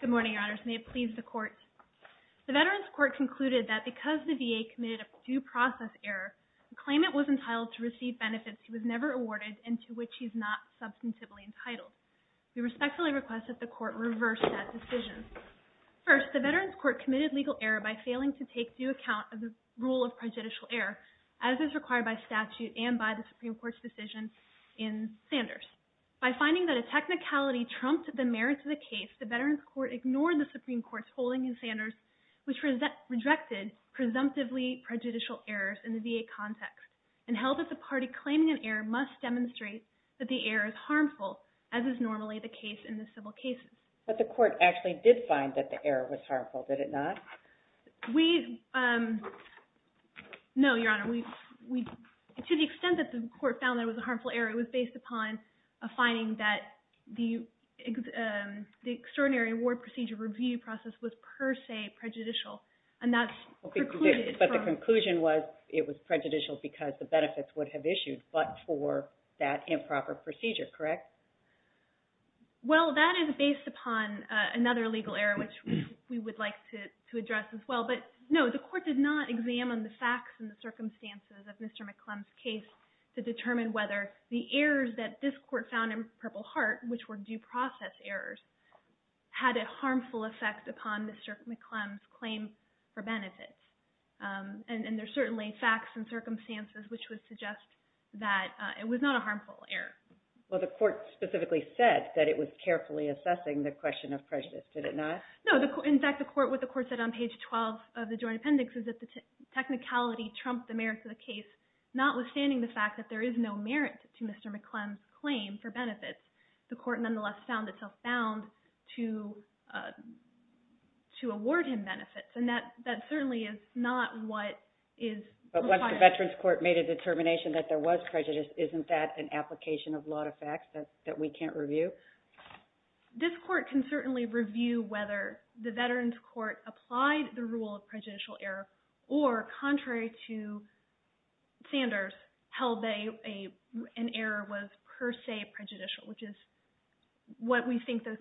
Good morning, Your Honors. May it please the Court. The Veterans Court concluded that because the VA committed a due process error, the claimant was entitled to receive benefits he was never awarded and to which he is not substantively entitled. We respectfully request that the Court reverse that decision. First, the Veterans Court committed legal error by failing to take due account of the rule of prejudicial error, as is required by statute and by the Supreme Court's decision in Sanders. By finding that a technicality trumped the merits of the case, the Veterans Court ignored the Supreme Court's holding in Sanders, which rejected presumptively prejudicial errors in the VA context and held that the party claiming an error must demonstrate that the error is harmful, as is normally the case in the civil cases. But the Court actually did find that the error was harmful, did it not? We, um, no, Your Honor. To the extent that the Court found that it was a harmful error, it was based upon a finding that the extraordinary award procedure review process was per se prejudicial, and that's precluded from... But the conclusion was it was prejudicial because the benefits would have issued, but for that improper procedure, correct? Well, that is based upon another legal error, which we would like to address as well. But no, the Court did not examine the facts and the circumstances of Mr. McClellan's case to determine whether the errors that this Court found in Purple Heart, which were due process errors, had a harmful effect upon Mr. McClellan's claim for benefits. And there are certainly facts and circumstances which would suggest that it was not a harmful error. Well, the Court specifically said that it was carefully assessing the question of prejudice, did it not? No, in fact, what the Court said on page 12 of the Joint Appendix is that the technicality trumped the merits of the case, notwithstanding the fact that there is no merit to Mr. McClellan's claim for benefits. The Court nonetheless found itself bound to award him benefits, and that certainly is not what is... But once the Veterans Court made a determination that there was prejudice, isn't that an application of lot of facts that we can't review? This Court can certainly review whether the Veterans Court applied the rule of prejudicial error, or contrary to Sanders, held that an error was per se prejudicial, which is what we think the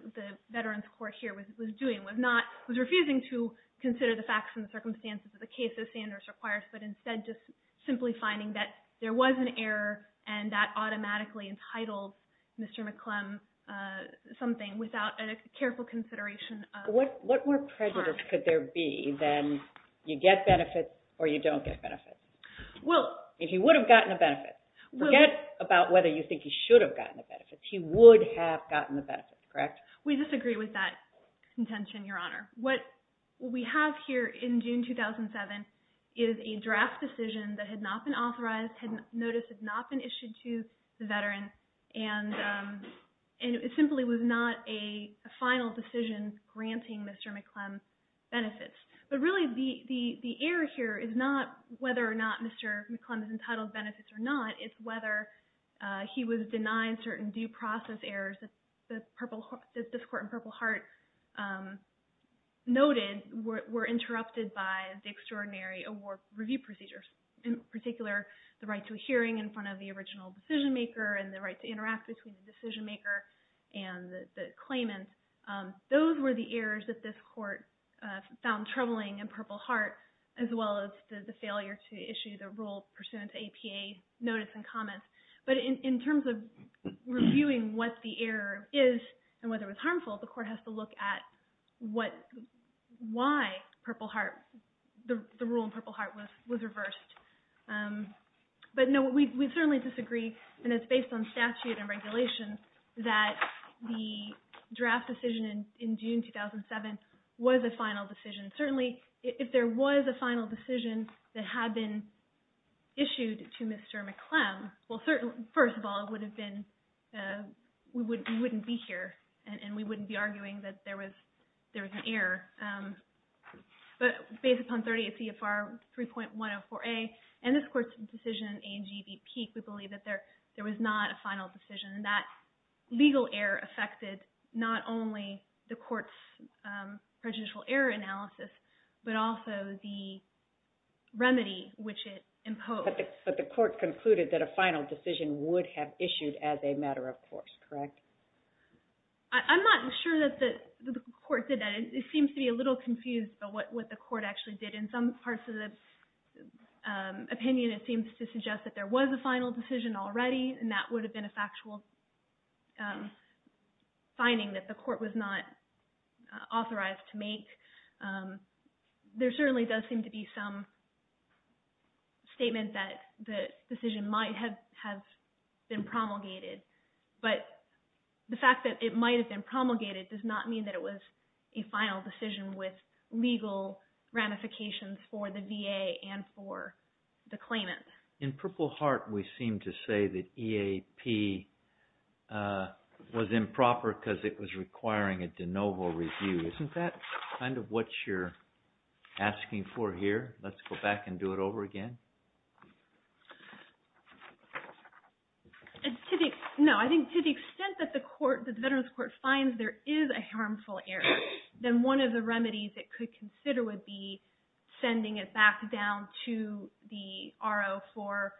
Veterans Court here was doing, was not...was refusing to consider the facts and the circumstances of the cases Sanders requires, but instead just simply finding that there was an error and that automatically entitled Mr. McClellan something without a careful consideration of... What more prejudice could there be than you get benefits or you don't get benefits? If he would have gotten a benefit, forget about whether you think he should have gotten a benefit, he would have gotten a benefit, correct? We disagree with that contention, Your Honor. What we have here in June 2007 is a draft decision that had not been authorized, notice had not been issued to the veterans, and it simply was not a final decision granting Mr. McClellan benefits. But really the error here is not whether or not Mr. McClellan is entitled to benefits or not, it's whether he was denied certain due process errors that this Court in Purple Heart noted were interrupted by the extraordinary award review procedures, in particular the right to a hearing in front of the original decision maker and the right to interact between the decision maker and the claimant. Those were the errors that this Court found troubling in Purple Heart as well as the failure to issue the rule pursuant to APA notice and comments. But in terms of reviewing what the error is and whether it was harmful, the Court has to look at why Purple Heart, the rule in Purple Heart was reversed. But no, we certainly disagree, and it's based on statute and regulation that the draft decision in June 2007 was a final decision. Certainly if there was a final decision that had been issued to Mr. McClellan, well first of all it would have been, we wouldn't be here and we wouldn't be arguing that there was an error. But based upon 38 CFR 3.104A and this Court's decision in A&G v. Peek, we believe that there was not a final decision. That legal error affected not only the Court's prejudicial error analysis, but also the remedy which it imposed. But the Court concluded that a final decision would have issued as a matter of course, correct? I'm not sure that the Court did that. It seems to be a little confused about what the Court actually did. In some parts of the opinion it seems to suggest that there was a final decision already and that would have been a factual finding that the Court was not authorized to make. There certainly does seem to be some statement that the decision might have been promulgated, but the fact that it might have been promulgated does not mean that it was a final decision with legal ramifications for the VA and for the claimant. In Purple Heart we seem to say that EAP was improper because it was requiring a de novo review. Isn't that kind of what you're asking for here? Let's go back and do it over again. No, I think to the extent that the Veterans Court finds there is a harmful error, then one of the remedies it could consider would be sending it back down to the RO for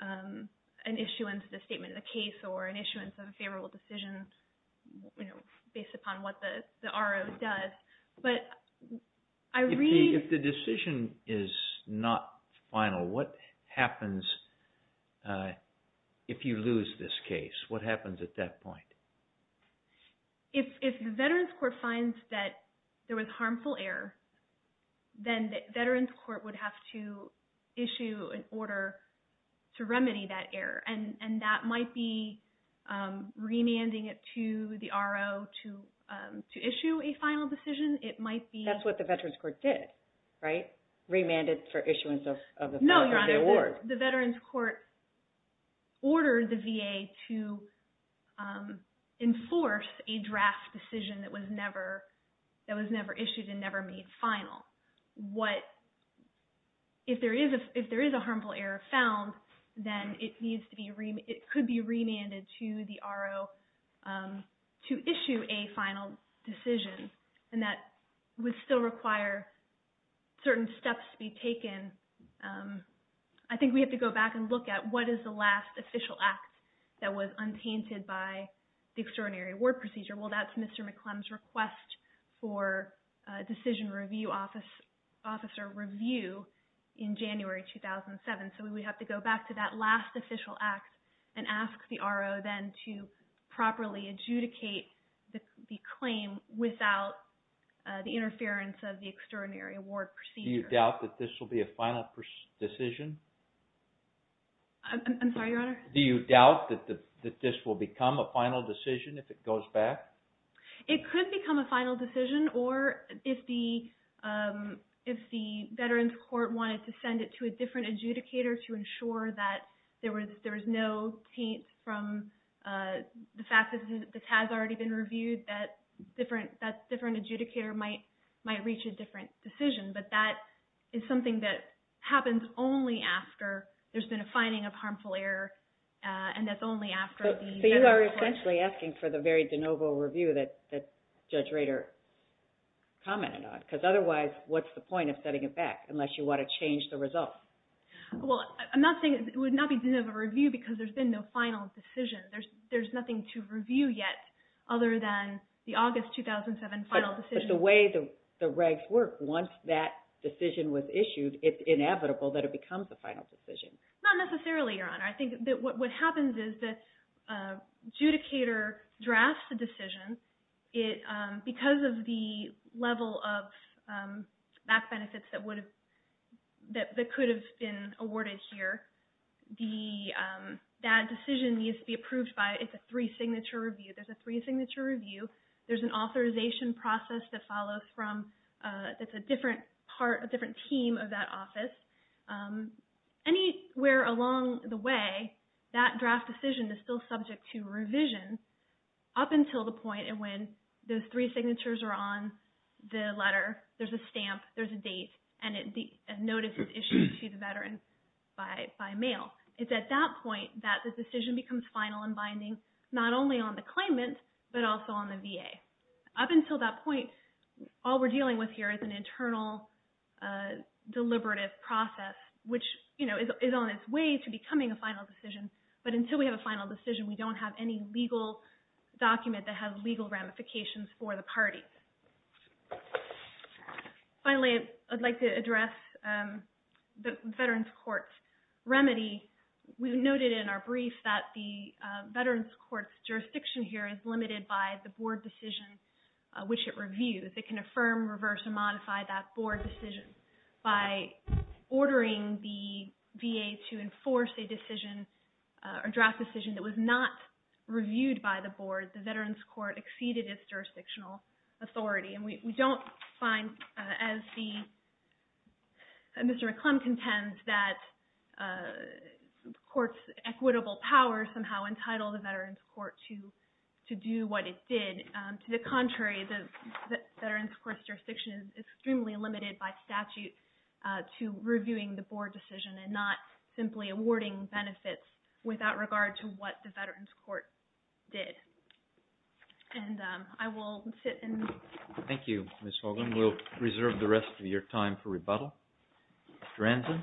an issuance of the statement of the case or an issuance of a favorable decision based upon what the RO does. If the decision is not final, what happens if you lose this case? What happens at that point? If the Veterans Court finds that there was harmful error, then the Veterans Court would have to issue an order to remedy that error. That might be remanding it to the RO to issue a final decision. It might be... That's what the Veterans Court did, right? Remanded for issuance of the award. No, Your Honor. The Veterans Court ordered the VA to enforce a draft decision that was never issued and never made final. If there is a harmful error found, then it could be sent back down to the RO for a final decision. That would still require certain steps to be taken. I think we have to go back and look at what is the last official act that was untainted by the Extraordinary Award Procedure. That's Mr. McClellan's request for Decision Review Officer review in January 2007. We would have to go back to that last official act and ask the RO then to properly adjudicate the claim without the interference of the Extraordinary Award Procedure. Do you doubt that this will be a final decision? I'm sorry, Your Honor? Do you doubt that this will become a final decision if it goes back? It could become a final decision, or if the Veterans Court wanted to send it to a different adjudicator to ensure that there was no taint from the fact that this has already been reviewed, that a different adjudicator might reach a different decision. But that is something that happens only after there's been a finding of harmful error, and that's only after the Veterans Court... So you are essentially asking for the very de novo review that Judge Rader commented on? Because otherwise, what's the point of sending it back unless you want to change the results? Well, I'm not saying it would not be de novo review because there's been no final decision. There's nothing to review yet other than the August 2007 final decision. But the way the regs work, once that decision was issued, it's inevitable that it becomes a final decision. Not necessarily, Your Honor. I think that what happens is that adjudicator drafts the back benefits that could have been awarded here. That decision needs to be approved by... It's a three-signature review. There's a three-signature review. There's an authorization process that follows from... That's a different team of that office. Anywhere along the way, that draft decision is still subject to revision up until the point when those three signatures are on the letter, there's a stamp, there's a date, and a notice is issued to the veteran by mail. It's at that point that the decision becomes final and binding, not only on the claimant, but also on the VA. Up until that point, all we're dealing with here is an internal deliberative process, which is on its way to becoming a final decision. But until we have a final decision, we're not going to be able to make any modifications for the parties. Finally, I'd like to address the Veterans Court's remedy. We've noted in our brief that the Veterans Court's jurisdiction here is limited by the board decision which it reviews. It can affirm, reverse, or modify that board decision. By ordering the VA to enforce a draft decision that was not reviewed by the board, the Veterans Court exceeded its jurisdictional authority. We don't find, as Mr. McClellan contends, that the court's equitable power somehow entitled the Veterans Court to do what it did. To the contrary, the Veterans Court's jurisdiction is extremely limited by statute to reviewing the board decision and not simply awarding benefits without regard to what the Veterans Court did. I will sit and... Thank you, Ms. Hoagland. We'll reserve the rest of your time for rebuttal. Mr. Ranzen?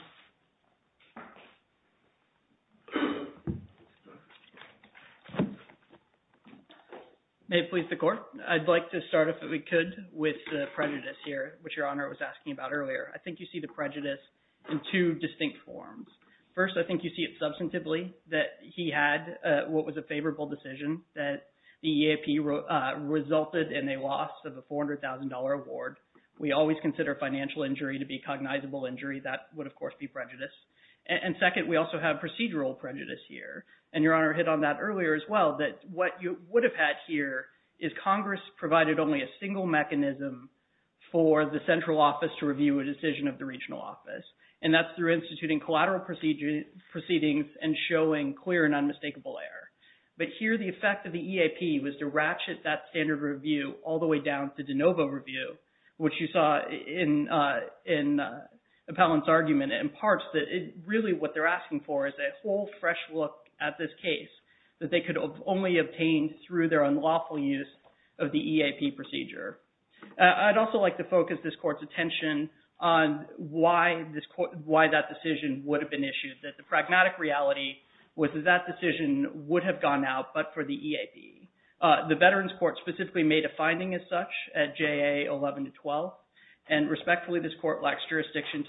May it please the court. I'd like to start, if we could, with the prejudice here, which forms. First, I think you see it substantively that he had what was a favorable decision that the EAP resulted in a loss of a $400,000 award. We always consider financial injury to be cognizable injury. That would, of course, be prejudice. Second, we also have procedural prejudice here. Your Honor hit on that earlier as well, that what you would have had here is Congress provided only a single mechanism for the central office to review a decision of the regional office. That's through instituting collateral proceedings and showing clear and unmistakable error. Here, the effect of the EAP was to ratchet that standard review all the way down to de novo review, which you saw in Appellant's argument. It imparts that really what they're asking for is a whole fresh look at this case that they could only obtain through their unlawful use of the EAP procedure. I'd also like to focus this Court's attention on why that decision would have been issued, that the pragmatic reality was that that decision would have gone out but for the EAP. The Veterans Court specifically made a finding as such at JA 11-12. Respectfully, this Court lacks jurisdiction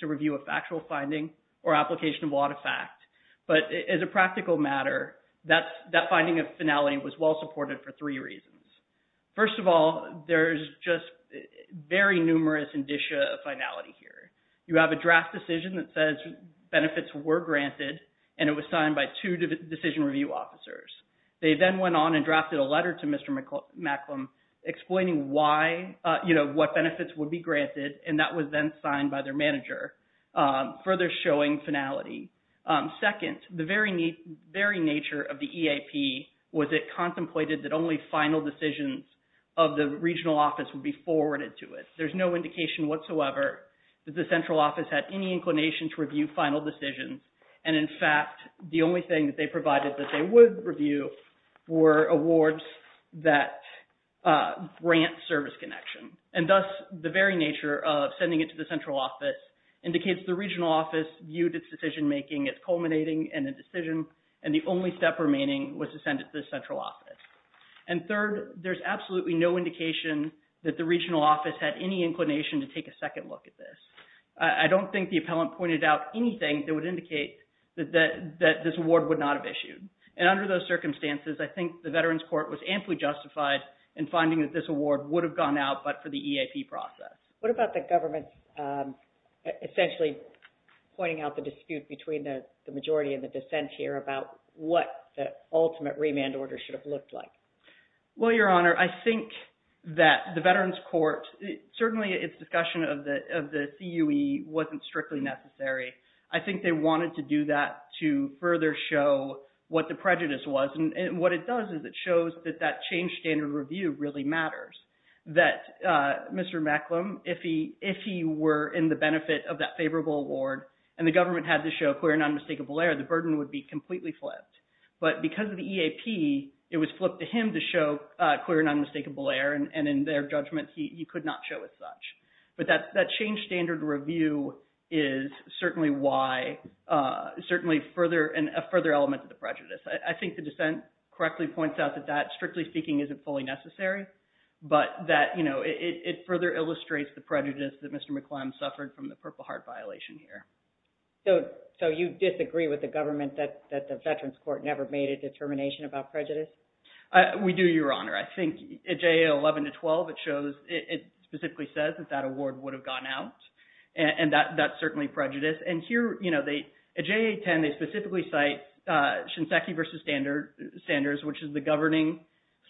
to review a factual finding or application of a lot of fact. As a practical matter, that finding of finality was well-supported for three reasons. First of all, there's just very numerous indicia of finality here. You have a draft decision that says benefits were granted and it was signed by two decision review officers. They then went on and drafted a letter to Mr. Macklem explaining what benefits would be granted and that was then signed by their manager, further showing finality. Second, the very nature of the EAP was it contemplated that only final decisions of the regional office would be forwarded to it. There's no indication whatsoever that the central office had any inclination to review final decisions. In fact, the only thing that they provided that they would review were awards that grant service connection. Thus, the very nature of sending it to the central office indicates the regional office viewed its decision-making as culminating in a decision and the only step remaining was to send it to the central office. Third, there's absolutely no indication that the regional office had any inclination to take a second look at this. I don't think the appellant pointed out anything that would indicate that this award would not have issued. Under those circumstances, I think the Veterans Court was amply justified in finding that this award would have gone out but for the EAP process. What about the government essentially pointing out the dispute between the majority and the dissent here about what the ultimate remand order should have looked like? Well, Your Honor, I think that the Veterans Court, certainly its discussion of the CUE wasn't strictly necessary. I think they wanted to do that to further show what the prejudice was and what it does is it shows that that change standard review really matters. That Mr. Macklem, if he were in the benefit of that favorable award and the government had to show clear and unmistakable error, the burden would be completely flipped. But because of the EAP, it was flipped to him to show clear and unmistakable error and in their judgment, he could not show it such. But that change standard review is certainly why, certainly further and a further element of the prejudice. I think the dissent correctly points out that strictly speaking isn't fully necessary but that it further illustrates the prejudice that Mr. Macklem suffered from the Purple Heart violation here. So, you disagree with the government that the Veterans Court never made a determination about prejudice? We do, Your Honor. I think at JAA 11 to 12, it shows, it specifically says that that award would have gone out and that's certainly prejudice. And here, at JAA 10, they specifically cite Shinseki v. Standards, which is the governing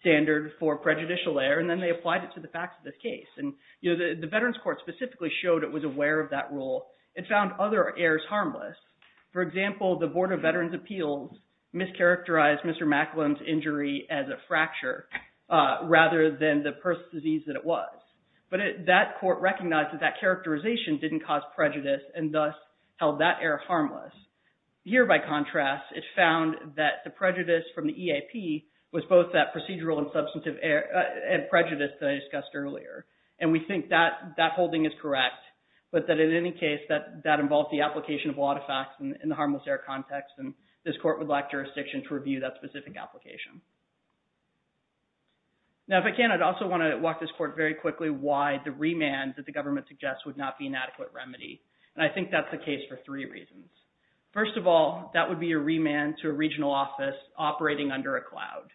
standard for prejudicial error and then they applied it to the facts of this case. And the Veterans Court specifically showed it was aware of that rule. It found other errors harmless. For example, the Board of Veterans' Appeals mischaracterized Mr. Macklem's injury as a fracture rather than the person's disease that it was. But that court recognized that that characterization didn't cause prejudice and thus held that error harmless. Here, by contrast, it found that the prejudice from the EAP was both that procedural and substantive prejudice that I discussed earlier. And we think that holding is correct but that in any case, that involved the application of a lot of facts in the harmless error context and this court would lack jurisdiction to review that specific application. Now, if I can, I'd also want to walk this court very quickly why the remand that the government suggests would not be an adequate remedy. And I think that's the case for three reasons. First of all, that would be a remand to a regional office operating under a cloud.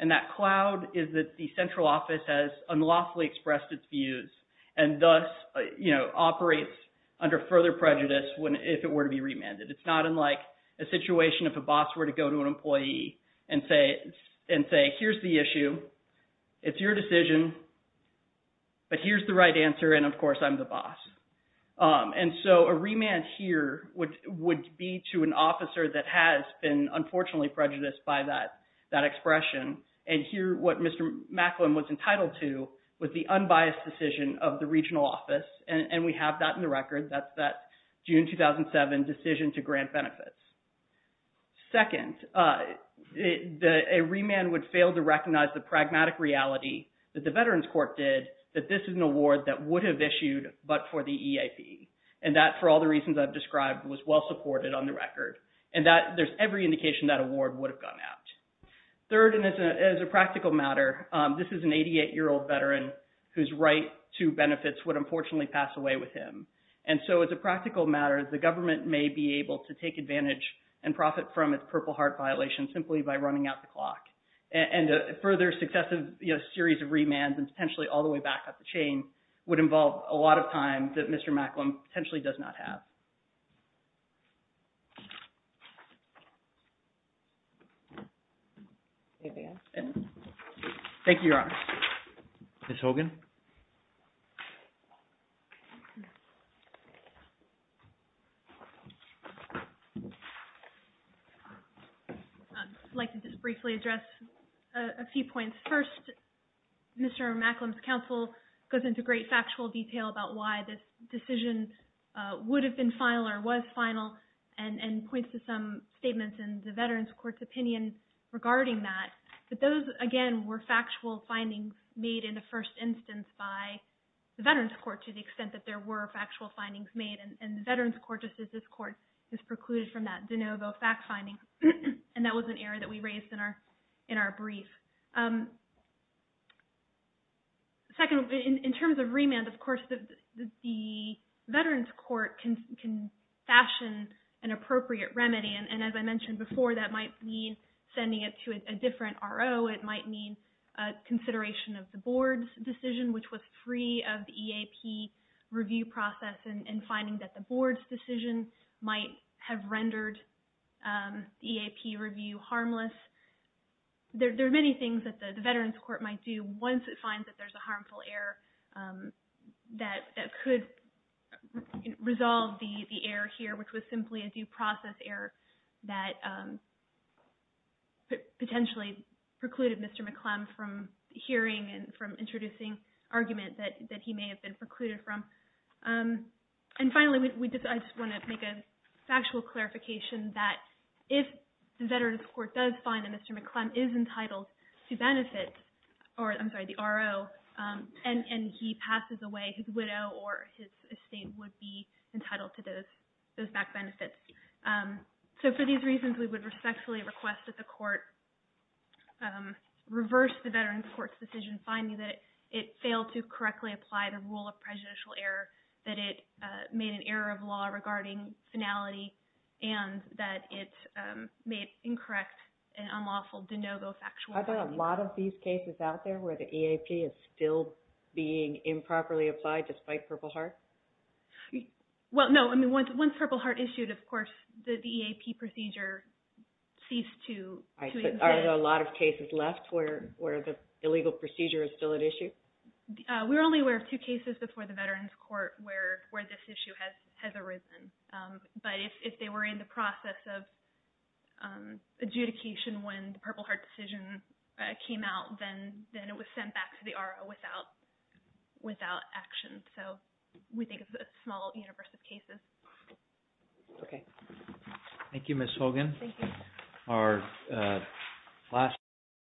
And that cloud is that the central office has unlawfully expressed its views and thus, you know, operates under further prejudice if it were to be remanded. It's not unlike a situation if a boss were to go to an employee and say, here's the issue. It's your decision, but here's the right answer and of the boss. And so a remand here would be to an officer that has been unfortunately prejudiced by that expression. And here, what Mr. Macklin was entitled to was the unbiased decision of the regional office. And we have that in the record. That's that June 2007 decision to grant benefits. Second, a remand would fail to recognize the pragmatic reality that the Veterans Court did that this is an award that would have issued but for the EIP. And that for all the reasons I've described was well supported on the record. And that there's every indication that award would have gone out. Third, and as a practical matter, this is an 88-year-old veteran whose right to benefits would unfortunately pass away with him. And so as a practical matter, the government may be able to take advantage and profit from its Purple Heart violation simply by running out the chain would involve a lot of time that Mr. Macklin potentially does not have. Thank you, Your Honor. Ms. Hogan? I'd like to just briefly address a few points. First, Mr. Macklin's counsel goes into great factual detail about why this decision would have been final or was final and points to some statements in the Veterans Court's opinion regarding that. But those, again, were factual findings made in the first instance by the Veterans Court to the extent that there were factual findings made. And the Veterans Court, just as this court, has precluded from that de novo fact finding. And that was an error that we raised in our brief. Second, in terms of remand, of course, the Veterans Court can fashion an appropriate remedy. And as I mentioned before, that might mean sending it to a different RO. It might mean a consideration of the board's decision, which was free of the EAP review process and finding that the board's decision might have rendered the EAP review harmless. There are many things that the Veterans Court might do once it finds that there's a harmful error that could resolve the error here, which was simply a due process error that potentially precluded Mr. McClellan from hearing and from introducing argument that he may have been precluded from. And finally, I just want to make a factual clarification that if the Veterans Court does find that Mr. McClellan is entitled to benefit, or I'm sorry, the RO, and he passes away, his widow or his estate would be entitled to those back benefits. So for these reasons, we would respectfully request that the court reverse the Veterans Court's decision finding that it failed to correctly apply the rule of prejudicial error, that it made an error of law regarding finality, and that it made incorrect and unlawful de novo factual findings. Are there a lot of these cases out there where the EAP is still being improperly applied despite Purple Heart? Well, no. Once Purple Heart issued, of course, the EAP procedure ceased to exist. Are there a lot of cases left where the illegal procedure is still at issue? We were only aware of two cases before the Veterans Court where this issue has arisen. But if they were in the process of adjudication when the Purple Heart decision came out, then it was sent back to the RO without action. So we think it's a small universe of cases. Okay. Thank you, Ms. Hogan. Thank you.